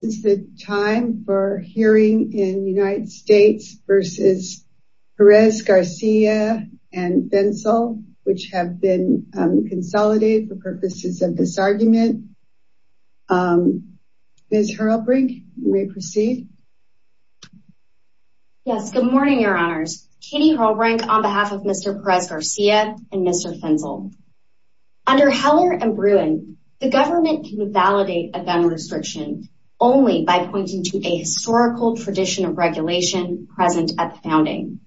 This is the time for hearing in United States v. Perez Garcia and Fentzel, which have been consolidated for purposes of this argument. Ms. Hurlbrink, you may proceed. Yes, good morning, your honors. Katie Hurlbrink on behalf of Mr. Perez Garcia and Mr. Fentzel. Under Heller and Bruin, the government can validate a gun restriction only by pointing to a historical tradition of regulation present at the founding.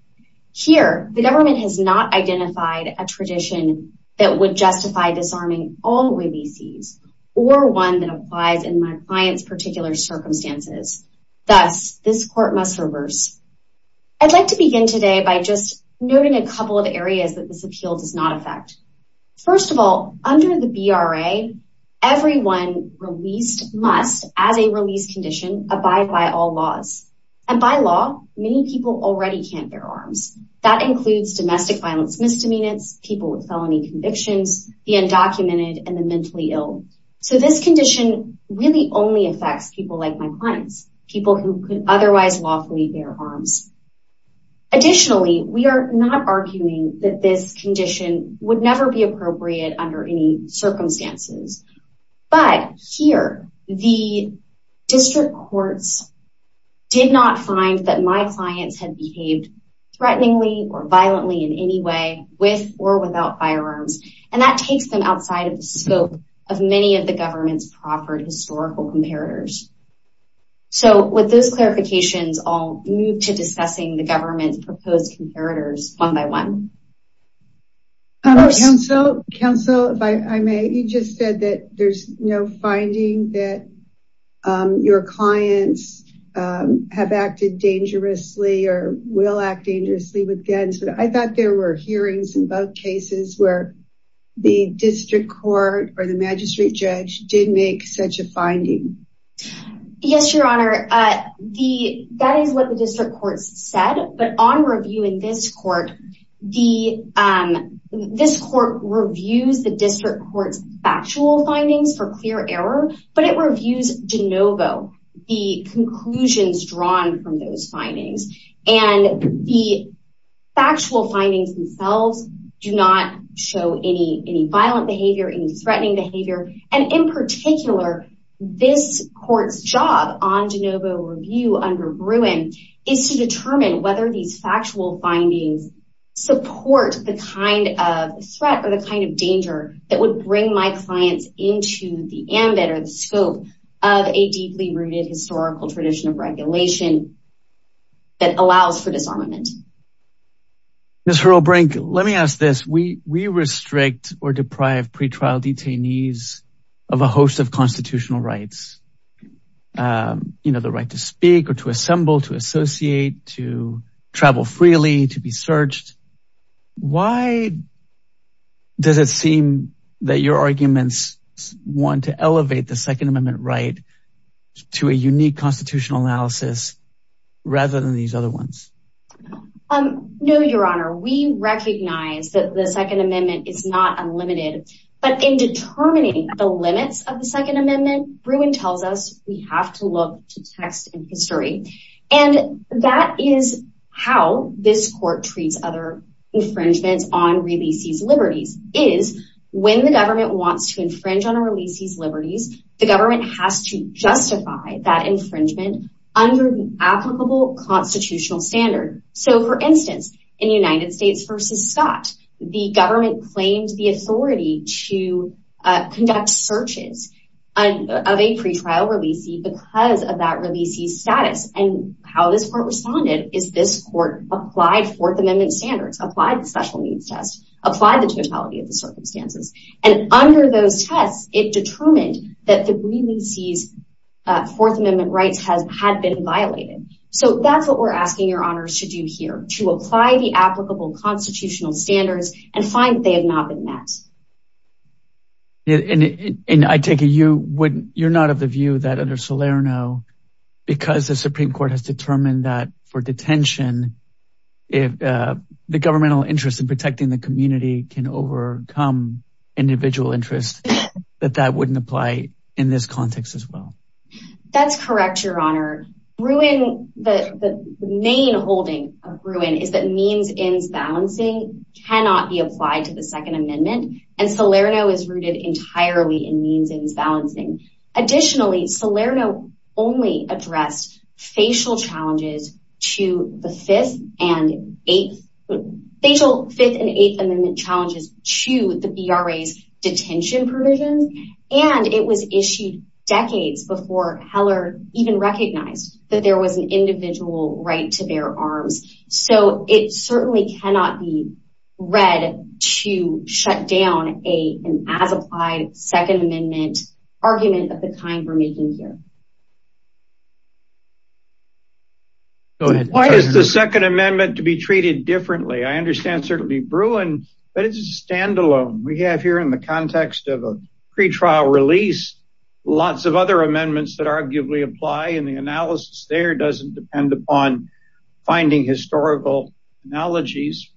Here, the government has not identified a tradition that would justify disarming all OABCs or one that applies in my client's particular circumstances. Thus, this court must reverse. I'd like to begin today by just noting a couple of areas that this appeal does not affect. First of all, under the BRA, everyone released must, as a release condition, abide by all laws. And by law, many people already can't bear arms. That includes domestic violence misdemeanors, people with felony convictions, the undocumented, and the mentally ill. So this condition really only affects people like my clients, people who could otherwise lawfully bear arms. Additionally, we are not arguing that this condition would never be appropriate under any circumstances. But here, the district courts did not find that my clients had behaved threateningly or violently in any way with or without firearms. And that takes them outside of the scope of many of the government's proper historical comparators. So with those clarifications, I'll move to discussing the government's proposed comparators one by one. Counsel, if I may, you just said that there's no finding that your clients have acted dangerously or will act dangerously with guns. But I thought there were hearings in both cases where the district court or the magistrate judge did make such a finding. Yes, Your Honor. That is what the district courts said. But on review in this court, this court reviews the district court's factual findings for clear error. But it reviews de novo, the conclusions drawn from those findings. And the factual findings themselves do not show any violent behavior, any threatening behavior. And in particular, this court's job on de novo review under Bruin is to determine whether these factual findings support the kind of threat or the kind of danger that would bring my clients into the ambit or the scope of a deeply rooted historical tradition of regulation that allows for disarmament. Ms. Hurlbrink, let me ask this. We restrict or deprive pretrial detainees of a host of constitutional rights, the right to speak or to assemble, to associate, to travel freely, to be searched. Why does it seem that your arguments want to elevate the Second Amendment right to a unique constitutional analysis rather than these other ones? No, Your Honor. We recognize that the Second Amendment is not unlimited. But in determining the limits of the Second Amendment, Bruin tells us we have to look to text and history. And that is how this court treats other infringements on releasees' liberties. It is when the government wants to infringe on a releasee's liberties, the government has to justify that infringement under an applicable constitutional standard. So, for instance, in United States v. Scott, the government claims the authority to conduct searches of a pretrial releasee because of that releasee's status. And how this court responded is this court applied Fourth Amendment standards, applied the special needs test, applied the totality of the circumstances. And under those tests, it determined that the releasee's Fourth Amendment rights had been violated. So that's what we're asking Your Honor to do here, to apply the applicable constitutional standards and find that they have not been met. And I take it you're not of the view that under Salerno, because the Supreme Court has determined that for detention, the governmental interest in protecting the community can overcome individual interests, that that wouldn't apply in this context as well. That's correct, Your Honor. The main holding of Gruen is that means-ends balancing cannot be applied to the Second Amendment, and Salerno is rooted entirely in means-ends balancing. Additionally, Salerno only addressed facial Fifth and Eighth Amendment challenges to the BRA's detention provisions. And it was issued decades before Heller even recognized that there was an individual right to bear arms. So it certainly cannot be read to shut down an as-applied Second Amendment argument of the kind we're making here. Go ahead. Why is the Second Amendment to be treated differently? I understand certainly Gruen, but it's a standalone. We have here in the context of a pretrial release, lots of other amendments that arguably apply, and the analysis there doesn't depend upon finding historical analogies.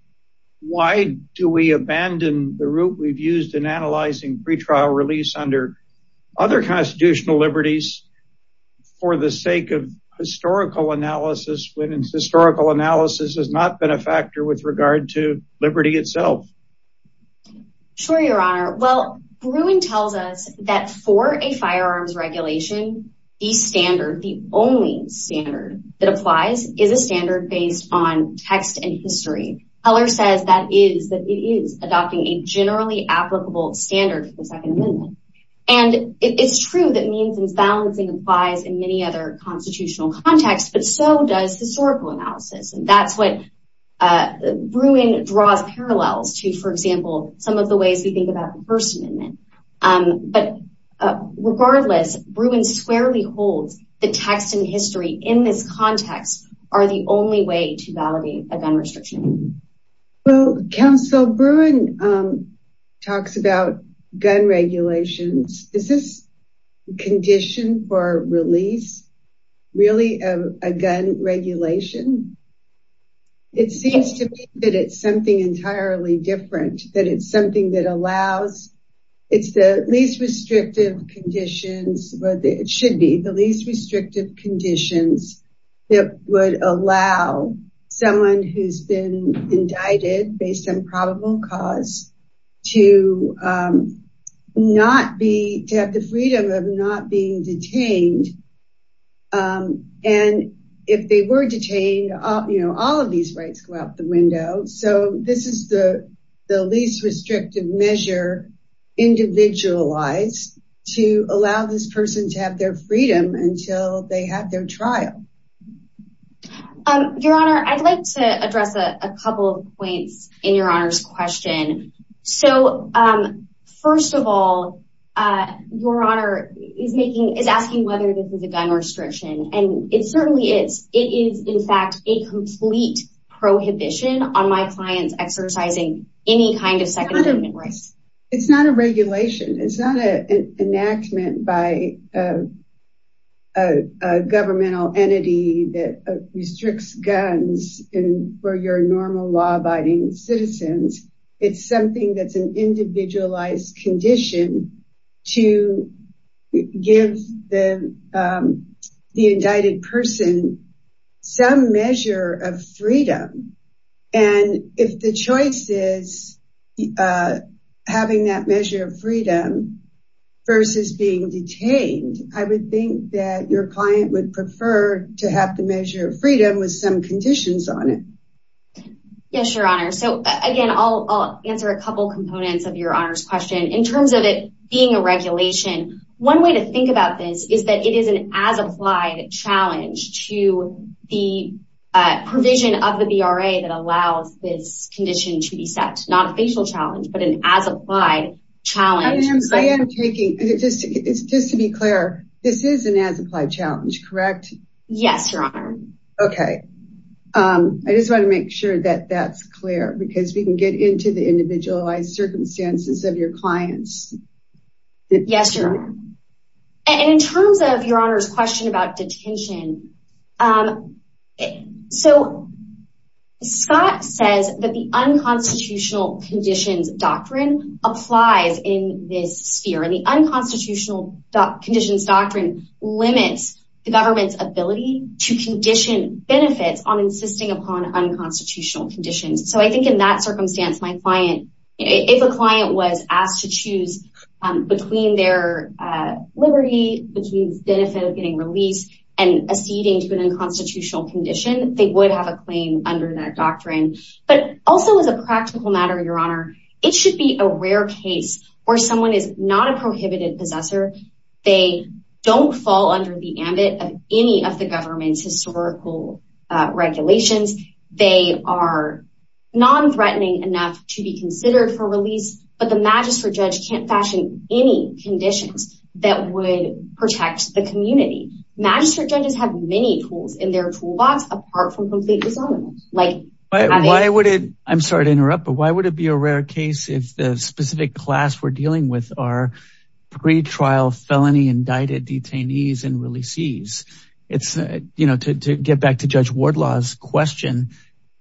Why do we abandon the route we've used in analyzing pretrial release under other constitutional liberties for the sake of historical analysis, when historical analysis has not been a factor with regard to liberty itself? Sure, Your Honor. Well, Gruen tells us that for a firearms regulation, the standard, the only standard that applies is a standard based on text and history. Heller says that it is adopting a generally applicable standard for the Second Amendment. And it's true that means-ends balancing applies in many other constitutional contexts, but so does historical analysis. And that's what Gruen draws parallels to, for example, some of the ways we think about the First Amendment. But regardless, Gruen squarely holds the text and history in this context are the only way to validate a gun restriction. Well, Counsel Gruen talks about gun regulations. Is this condition for release really a gun regulation? It seems to me that it's something entirely different, that it's something that allows, it's the least restrictive conditions, or it should be the least restrictive conditions that would allow someone who's been indicted based on probable cause to not be, to have the freedom of not being detained. And if they were detained, you know, all of these rights go out the window. So this is the least restrictive measure individualized to allow this person to have their freedom until they have their trial. Your Honor, I'd like to address a couple of points in Your Honor's question. So, first of all, Your Honor is asking whether this is a gun restriction. And it certainly is. It is, in fact, a complete prohibition on my clients exercising any kind of Second Amendment rights. It's not a regulation. It's not an enactment by a governmental entity that restricts guns for your normal law-abiding citizens. It's something that's an individualized condition to give the indicted person some measure of freedom. And if the choice is having that measure of freedom versus being detained, I would think that your client would prefer to have the measure of freedom with some conditions on it. Yes, Your Honor. So, again, I'll answer a couple components of Your Honor's question. In terms of it being a regulation, one way to think about this is that it is an as-applied challenge to the provision of the VRA that allows this condition to be set. Not a facial challenge, but an as-applied challenge. I am taking, just to be clear, this is an as-applied challenge, correct? Yes, Your Honor. Okay. I just want to make sure that that's clear, because we can get into the individualized circumstances of your clients. Yes, Your Honor. And in terms of Your Honor's question about detention, So, Scott says that the unconstitutional conditions doctrine applies in this sphere. And the unconstitutional conditions doctrine limits the government's ability to condition benefits on insisting upon unconstitutional conditions. So, I think in that circumstance, if a client was asked to choose between their liberty, between the benefit of getting released, and acceding to an unconstitutional condition, they would have a claim under that doctrine. But also, as a practical matter, Your Honor, it should be a rare case where someone is not a prohibited possessor. They don't fall under the ambit of any of the government's historical regulations. They are non-threatening enough to be considered for release, but the magistrate judge can't fashion any conditions that would protect the community. Magistrate judges have many tools in their toolbox, apart from complete disarmament. I'm sorry to interrupt, but why would it be a rare case if the specific class we're dealing with are pre-trial felony indicted detainees and releasees? To get back to Judge Wardlaw's question,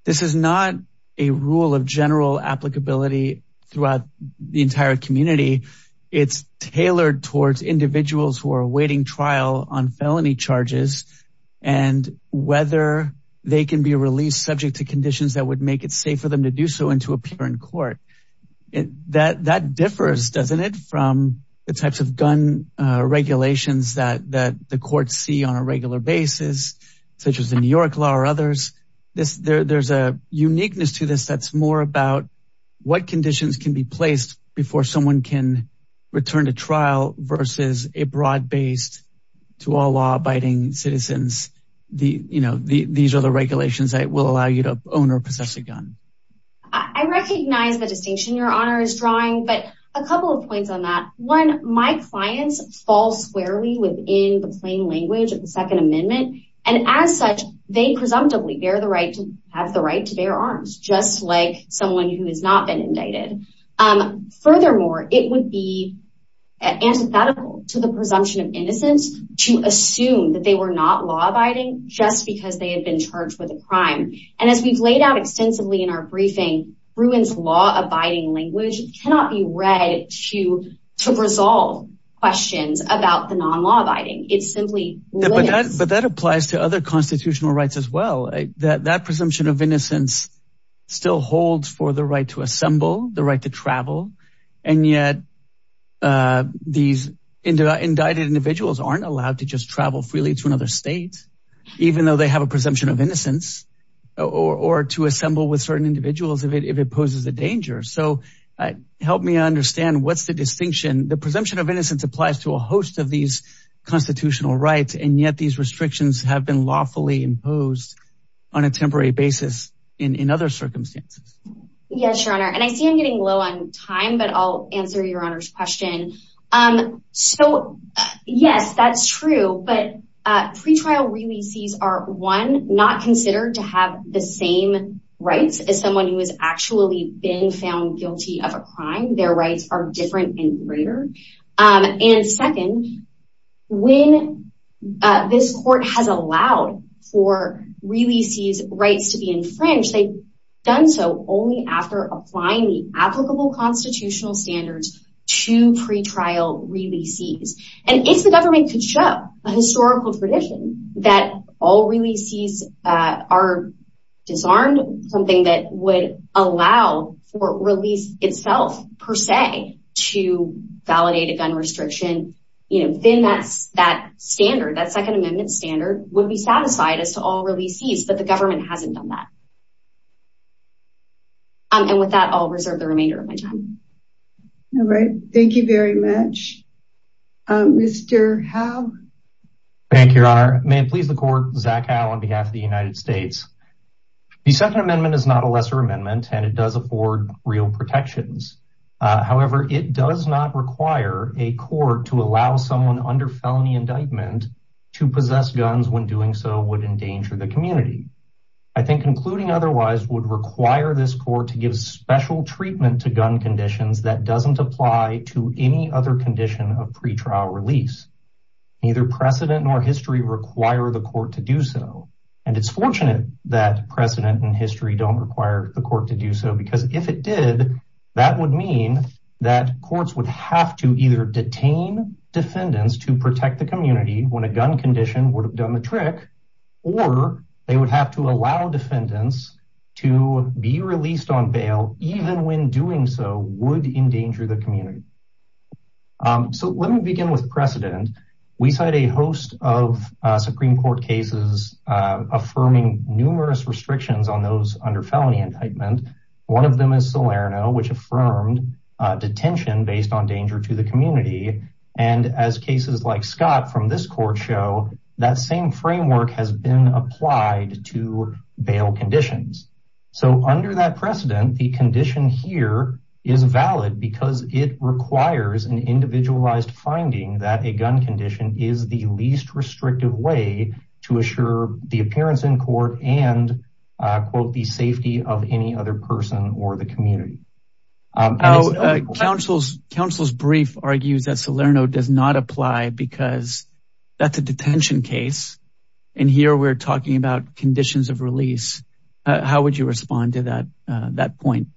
this is not a rule of general applicability throughout the entire community. It's tailored towards individuals who are awaiting trial on felony charges and whether they can be released subject to conditions that would make it safe for them to do so and to appear in court. That differs, doesn't it, from the types of gun regulations that the courts see on a regular basis, such as the New York law or others. There's a uniqueness to this that's more about what conditions can be placed before someone can return to trial versus a broad-based, to all law-abiding citizens, these are the regulations that will allow you to own or possess a gun. I recognize the distinction Your Honor is drawing, but a couple of points on that. One, my clients fall squarely within the plain language of the Second Amendment, and as such, they presumptively have the right to bear arms, just like someone who has not been indicted. Furthermore, it would be antithetical to the presumption of innocence to assume that they were not law-abiding just because they had been charged with a crime. And as we've laid out extensively in our briefing, Bruin's law-abiding language cannot be read to resolve questions about the non-law-abiding. But that applies to other constitutional rights as well. That presumption of innocence still holds for the right to assemble, the right to travel. And yet these indicted individuals aren't allowed to just travel freely to another state, even though they have a presumption of innocence, or to assemble with certain individuals if it poses a danger. So help me understand what's the distinction. The presumption of innocence applies to a host of these constitutional rights, and yet these restrictions have been lawfully imposed on a temporary basis in other circumstances. Yes, Your Honor, and I see I'm getting low on time, but I'll answer Your Honor's question. So yes, that's true, but pretrial releasees are, one, not considered to have the same rights as someone who has actually been found guilty of a crime. Their rights are different and greater. And second, when this court has allowed for releasees' rights to be infringed, they've done so only after applying the applicable constitutional standards to pretrial releasees. And if the government could show a historical tradition that all releasees are disarmed, something that would allow for release itself, per se, to validate a gun restriction, then that standard, that Second Amendment standard, would be satisfied as to all releasees, but the government hasn't done that. And with that, I'll reserve the remainder of my time. All right, thank you very much. Mr. Howe? Thank you, Your Honor. May it please the Court, Zach Howe on behalf of the United States. The Second Amendment is not a lesser amendment, and it does afford real protections. However, it does not require a court to allow someone under felony indictment to possess guns when doing so would endanger the community. I think concluding otherwise would require this court to give special treatment to gun conditions that doesn't apply to any other condition of pretrial release. Neither precedent nor history require the court to do so. And it's fortunate that precedent and history don't require the court to do so, because if it did, that would mean that courts would have to either detain defendants to protect the community when a gun condition would have done the trick, or they would have to allow defendants to be released on bail even when doing so would endanger the community. So let me begin with precedent. We cite a host of Supreme Court cases affirming numerous restrictions on those under felony indictment. One of them is Salerno, which affirmed detention based on danger to the community. And as cases like Scott from this court show, that same framework has been applied to bail conditions. So under that precedent, the condition here is valid because it requires an individualized finding that a gun condition is the least restrictive way to assure the appearance in court and, quote, the safety of any other person or the community. Counsel's brief argues that Salerno does not apply because that's a detention case. And here we're talking about conditions of release. How would you respond to that point?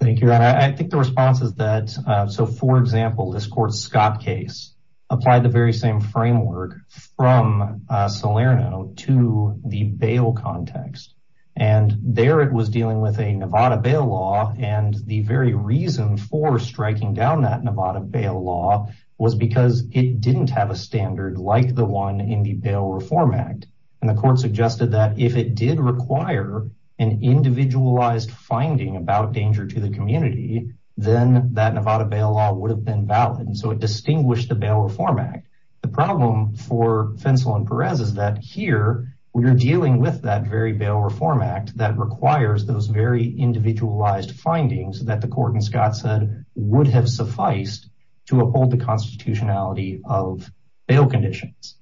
Thank you. I think the response is that so, for example, this court Scott case applied the very same framework from Salerno to the bail context. And there it was dealing with a Nevada bail law. And the very reason for striking down that Nevada bail law was because it didn't have a standard like the one in the bail reform act. And the court suggested that if it did require an individualized finding about danger to the community, then that Nevada bail law would have been valid. And so it distinguished the bail reform act. The problem for Fensel and Perez is that here we are dealing with that very bail reform act that requires those very individualized findings that the court and Scott said would have sufficed to uphold the constitutionality of bail conditions.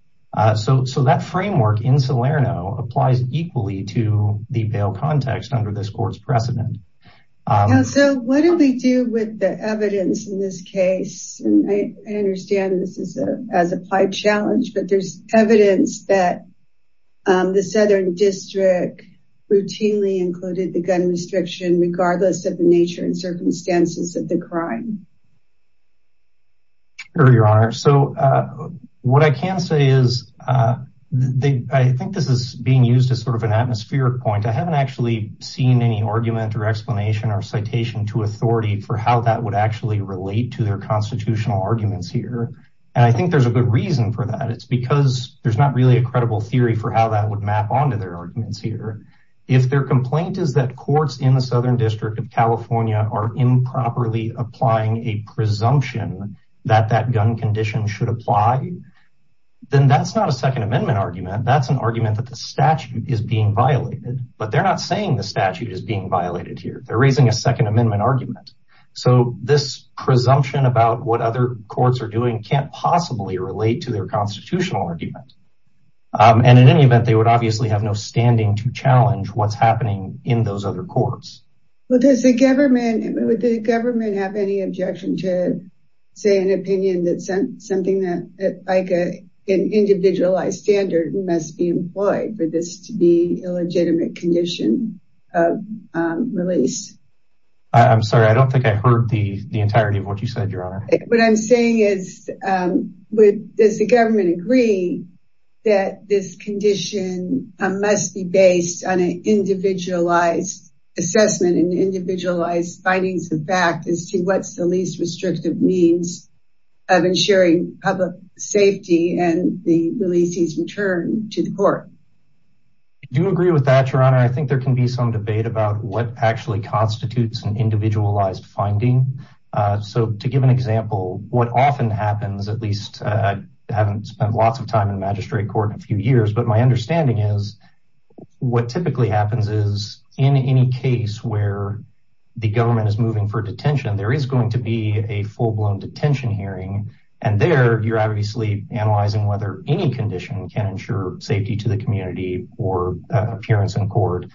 So that framework in Salerno applies equally to the bail context under this court's precedent. So what do we do with the evidence in this case? And I understand this is as applied challenge, but there's evidence that the Southern District routinely included the gun restriction, regardless of the nature and circumstances of the crime. Your honor. So what I can say is I think this is being used as sort of an atmospheric point. I haven't actually seen any argument or explanation or citation to authority for how that would actually relate to their constitutional arguments here. And I think there's a good reason for that. It's because there's not really a credible theory for how that would map onto their arguments here. If their complaint is that courts in the Southern District of California are improperly applying a presumption that that gun condition should apply, then that's not a second amendment argument. That's an argument that the statute is being violated, but they're not saying the statute is being violated here. They're raising a second amendment argument. So this presumption about what other courts are doing can't possibly relate to their constitutional argument. And in any event, they would obviously have no standing to challenge what's happening in those other courts. Would the government have any objection to say an opinion that something like an individualized standard must be employed for this to be a legitimate condition of release? I'm sorry, I don't think I heard the entirety of what you said, your honor. What I'm saying is, does the government agree that this condition must be based on an individualized assessment and individualized findings of fact as to what's the least restrictive means of ensuring public safety and the release's return to the court? I do agree with that, your honor. I think there can be some debate about what actually constitutes an individualized finding. So to give an example, what often happens, at least I haven't spent lots of time in magistrate court in a few years, but my understanding is what typically happens is in any case where the government is moving for detention, there is going to be a full-blown detention hearing. And there you're obviously analyzing whether any condition can ensure safety to the community or appearance in court.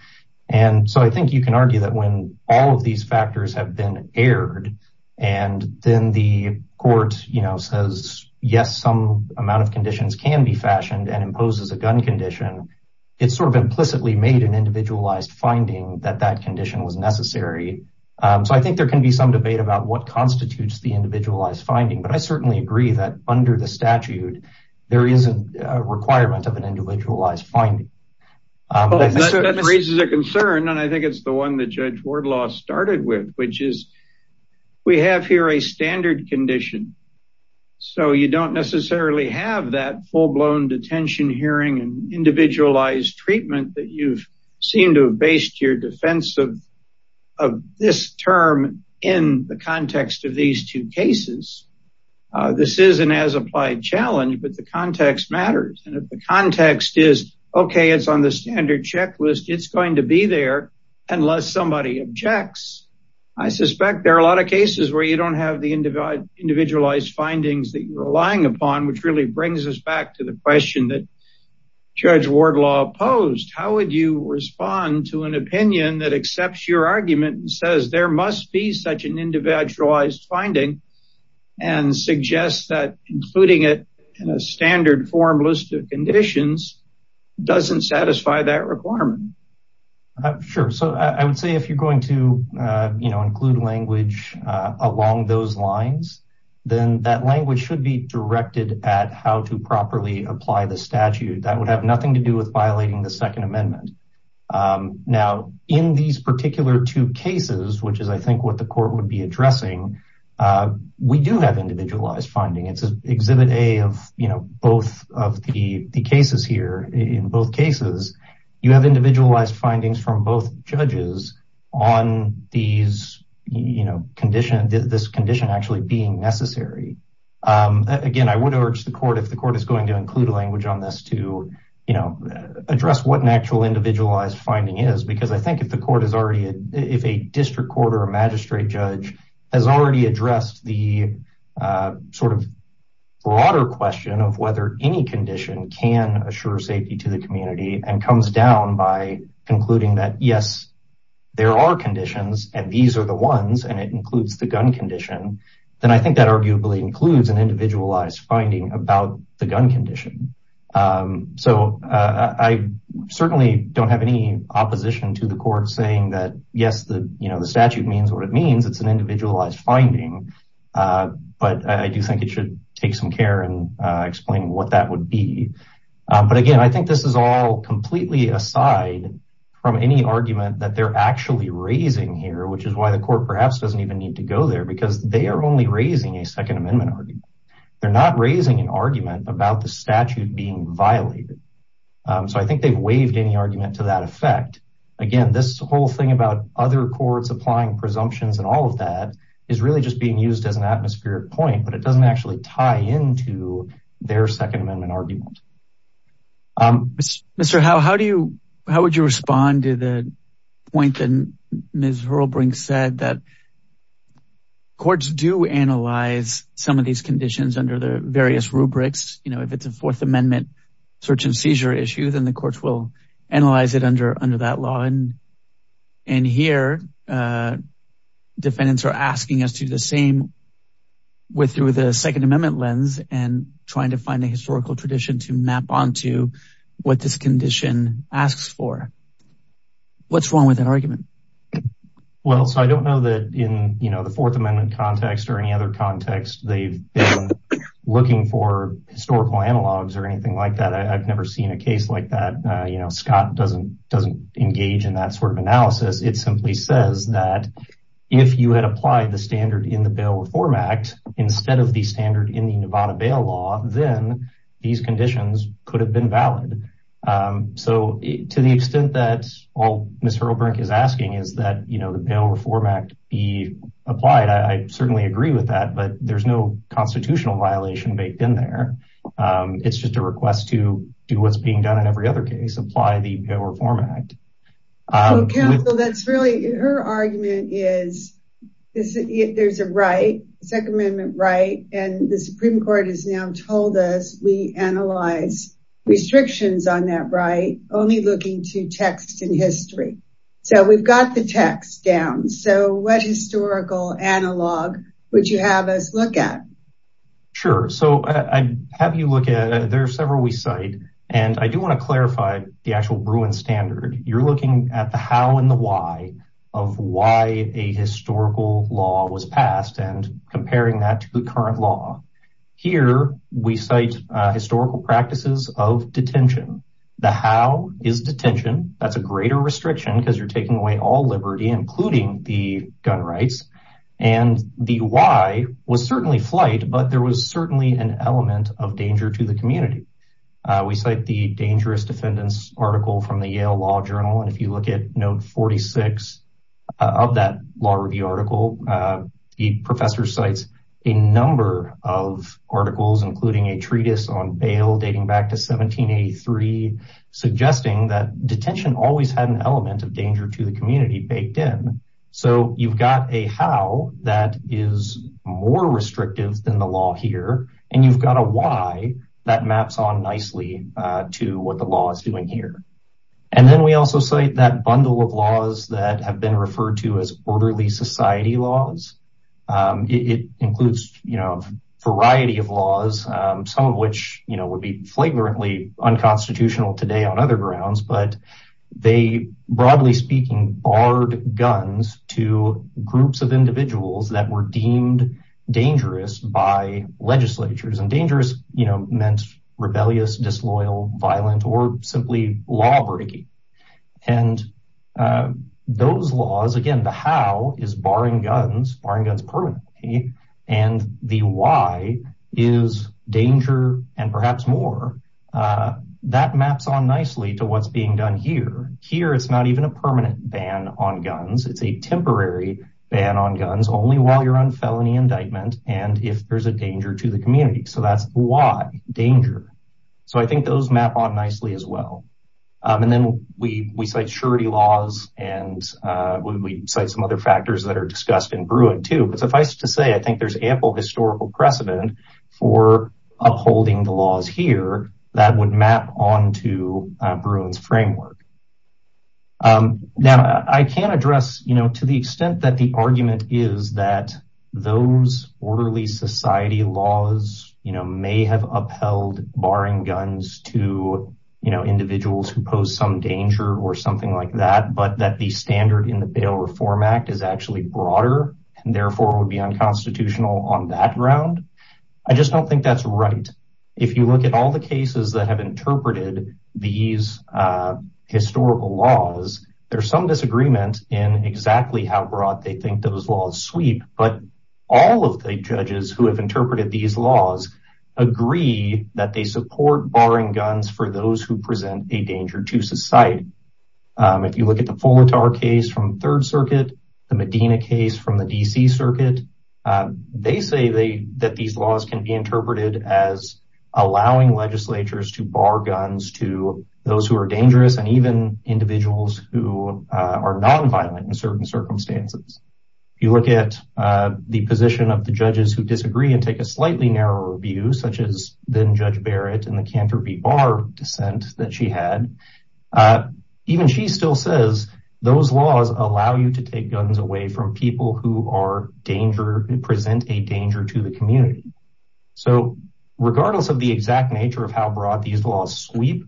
And so I think you can argue that when all of these factors have been aired and then the court says, yes, some amount of conditions can be fashioned and imposes a gun condition, it's sort of implicitly made an individualized finding that that condition was necessary. So I think there can be some debate about what constitutes the individualized finding. But I certainly agree that under the statute, there is a requirement of an individualized finding. That raises a concern, and I think it's the one that Judge Wardlaw started with, which is we have here a standard condition. So you don't necessarily have that full-blown detention hearing and individualized treatment that you've seen to have based your defense of this term in the context of these two cases. This is an as-applied challenge, but the context matters. And if the context is, okay, it's on the standard checklist, it's going to be there unless somebody objects. I suspect there are a lot of cases where you don't have the individualized findings that you're relying upon, which really brings us back to the question that Judge Wardlaw posed. How would you respond to an opinion that accepts your argument and says there must be such an individualized finding and suggests that including it in a standard form list of conditions doesn't satisfy that requirement? Sure. So I would say if you're going to include language along those lines, then that language should be directed at how to properly apply the statute. That would have nothing to do with violating the Second Amendment. Now, in these particular two cases, which is, I think, what the court would be addressing, we do have individualized finding. It's Exhibit A of both of the cases here. In both cases, you have individualized findings from both judges on this condition actually being necessary. Again, I would urge the court, if the court is going to include language on this, to address what an actual individualized finding is. Because I think if a district court or a magistrate judge has already addressed the sort of broader question of whether any condition can assure safety to the community and comes down by concluding that, yes, there are conditions, and these are the ones, and it includes the gun condition. Then I think that arguably includes an individualized finding about the gun condition. So I certainly don't have any opposition to the court saying that, yes, the statute means what it means. It's an individualized finding. But I do think it should take some care and explain what that would be. But again, I think this is all completely aside from any argument that they're actually raising here, which is why the court perhaps doesn't even need to go there, because they are only raising a Second Amendment argument. They're not raising an argument about the statute being violated. So I think they've waived any argument to that effect. Again, this whole thing about other courts applying presumptions and all of that is really just being used as an atmospheric point, but it doesn't actually tie into their Second Amendment argument. Mr. Howe, how would you respond to the point that Ms. Hurlbrink said that courts do analyze some of these conditions under the various rubrics? If it's a Fourth Amendment search and seizure issue, then the courts will analyze it under that law. And here defendants are asking us to do the same through the Second Amendment lens and trying to find a historical tradition to map onto what this condition asks for. What's wrong with that argument? Well, so I don't know that in the Fourth Amendment context or any other context, they've been looking for historical analogs or anything like that. I've never seen a case like that. Scott doesn't engage in that sort of analysis. It simply says that if you had applied the standard in the Bail Reform Act instead of the standard in the Nevada Bail Law, then these conditions could have been valid. So to the extent that all Ms. Hurlbrink is asking is that the Bail Reform Act be applied, I certainly agree with that, but there's no constitutional violation baked in there. It's just a request to do what's being done in every other case, apply the Bail Reform Act. Counsel, that's really her argument is there's a right, Second Amendment right, and the Supreme Court has now told us we analyze restrictions on that right, only looking to text and history. So we've got the text down. So what historical analog would you have us look at? Sure. So I have you look at, there are several we cite, and I do want to clarify the actual Bruin standard. You're looking at the how and the why of why a historical law was passed and comparing that to the current law. Here we cite historical practices of detention. The how is detention. That's a greater restriction because you're taking away all liberty, including the gun rights. And the why was certainly flight, but there was certainly an element of danger to the community. We cite the dangerous defendants article from the Yale Law Journal. And if you look at note 46 of that law review article, the professor cites a number of articles, including a treatise on bail dating back to 1783, suggesting that detention always had an element of danger to the community baked in. So you've got a how that is more restrictive than the law here. And you've got a why that maps on nicely to what the law is doing here. And then we also say that bundle of laws that have been referred to as orderly society laws. It includes, you know, variety of laws, some of which, you know, would be flagrantly unconstitutional today on other grounds. But they broadly speaking, barred guns to groups of individuals that were deemed dangerous by legislatures and dangerous, you know, meant rebellious, disloyal, violent, or simply law breaking. And those laws, again, the how is barring guns, barring guns permanently. And the why is danger and perhaps more. That maps on nicely to what's being done here. Here it's not even a permanent ban on guns. It's a temporary ban on guns only while you're on felony indictment. And if there's a danger to the community. So that's why danger. So I think those map on nicely as well. And then we cite surety laws and we cite some other factors that are discussed in Bruin too. But suffice to say, I think there's ample historical precedent for upholding the laws here that would map on to Bruin's framework. Now, I can't address, you know, to the extent that the argument is that those orderly society laws, you know, may have upheld barring guns to, you know, individuals who pose some danger or something like that. But that the standard in the Bail Reform Act is actually broader and therefore would be unconstitutional on that ground. I just don't think that's right. If you look at all the cases that have interpreted these historical laws, there's some disagreement in exactly how broad they think those laws sweep. But all of the judges who have interpreted these laws agree that they support barring guns for those who present a danger to society. If you look at the Fuller Tower case from Third Circuit, the Medina case from the D.C. Circuit, they say that these laws can be interpreted as allowing legislatures to bar guns to those who are dangerous and even individuals who are nonviolent in certain circumstances. If you look at the position of the judges who disagree and take a slightly narrower view, such as then Judge Barrett and the Cantor B. Barr dissent that she had, even she still says those laws allow you to take guns away from people who are danger, present a danger to the community. So regardless of the exact nature of how broad these laws sweep,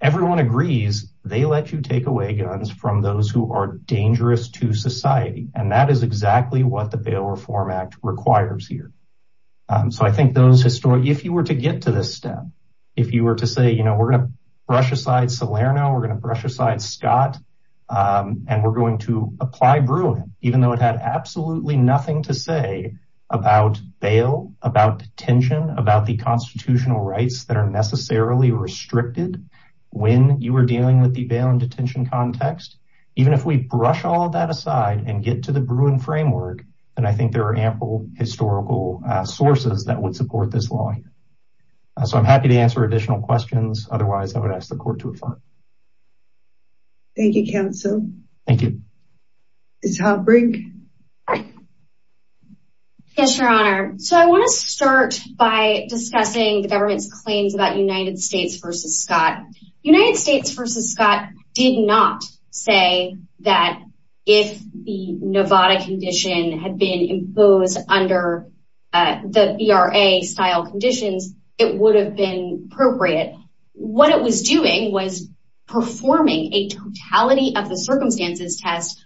everyone agrees they let you take away guns from those who are dangerous to society. And that is exactly what the Bail Reform Act requires here. So I think those historians, if you were to get to this step, if you were to say, you know, we're going to brush aside Salerno, we're going to brush aside Scott, and we're going to apply Bruin, even though it had absolutely nothing to say about bail, about detention, about the constitutional rights that are necessarily restricted when you were dealing with the bail and detention context. Even if we brush all of that aside and get to the Bruin framework, then I think there are ample historical sources that would support this law here. So I'm happy to answer additional questions. Otherwise, I would ask the court to adjourn. Thank you, counsel. Thank you. Ms. Holbrook? Yes, Your Honor. So I want to start by discussing the government's claims about United States v. Scott. United States v. Scott did not say that if the Novada condition had been imposed under the VRA-style conditions, it would have been appropriate. But what it was doing was performing a totality-of-the-circumstances test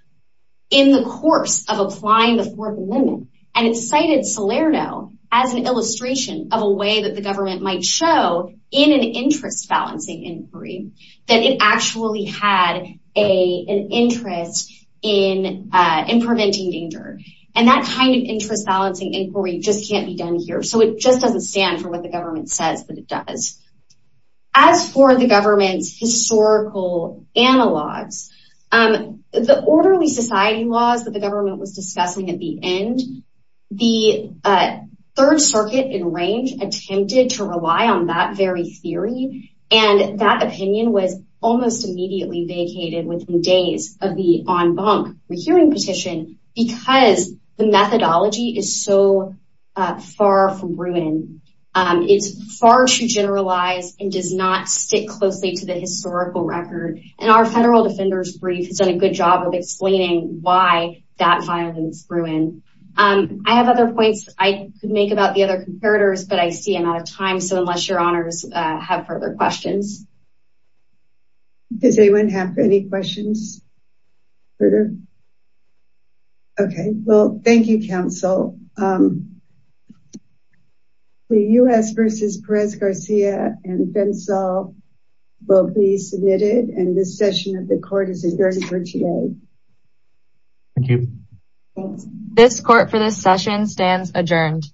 in the course of applying the Fourth Amendment. And it cited Salerno as an illustration of a way that the government might show in an interest-balancing inquiry that it actually had an interest in preventing danger. And that kind of interest-balancing inquiry just can't be done here. So it just doesn't stand for what the government says that it does. As for the government's historical analogs, the orderly society laws that the government was discussing at the end, the Third Circuit in range attempted to rely on that very theory. And that opinion was almost immediately vacated within days of the en banc hearing petition because the methodology is so far from Bruin. It's far too generalized and does not stick closely to the historical record. And our federal defender's brief has done a good job of explaining why that violence is Bruin. I have other points I could make about the other comparators, but I see I'm out of time. So unless your honors have further questions. Does anyone have any questions? Okay, well, thank you, counsel. The U.S. v. Perez-Garcia and Fensal will be submitted. And this session of the court is adjourned for today. Thank you. This court for this session stands adjourned.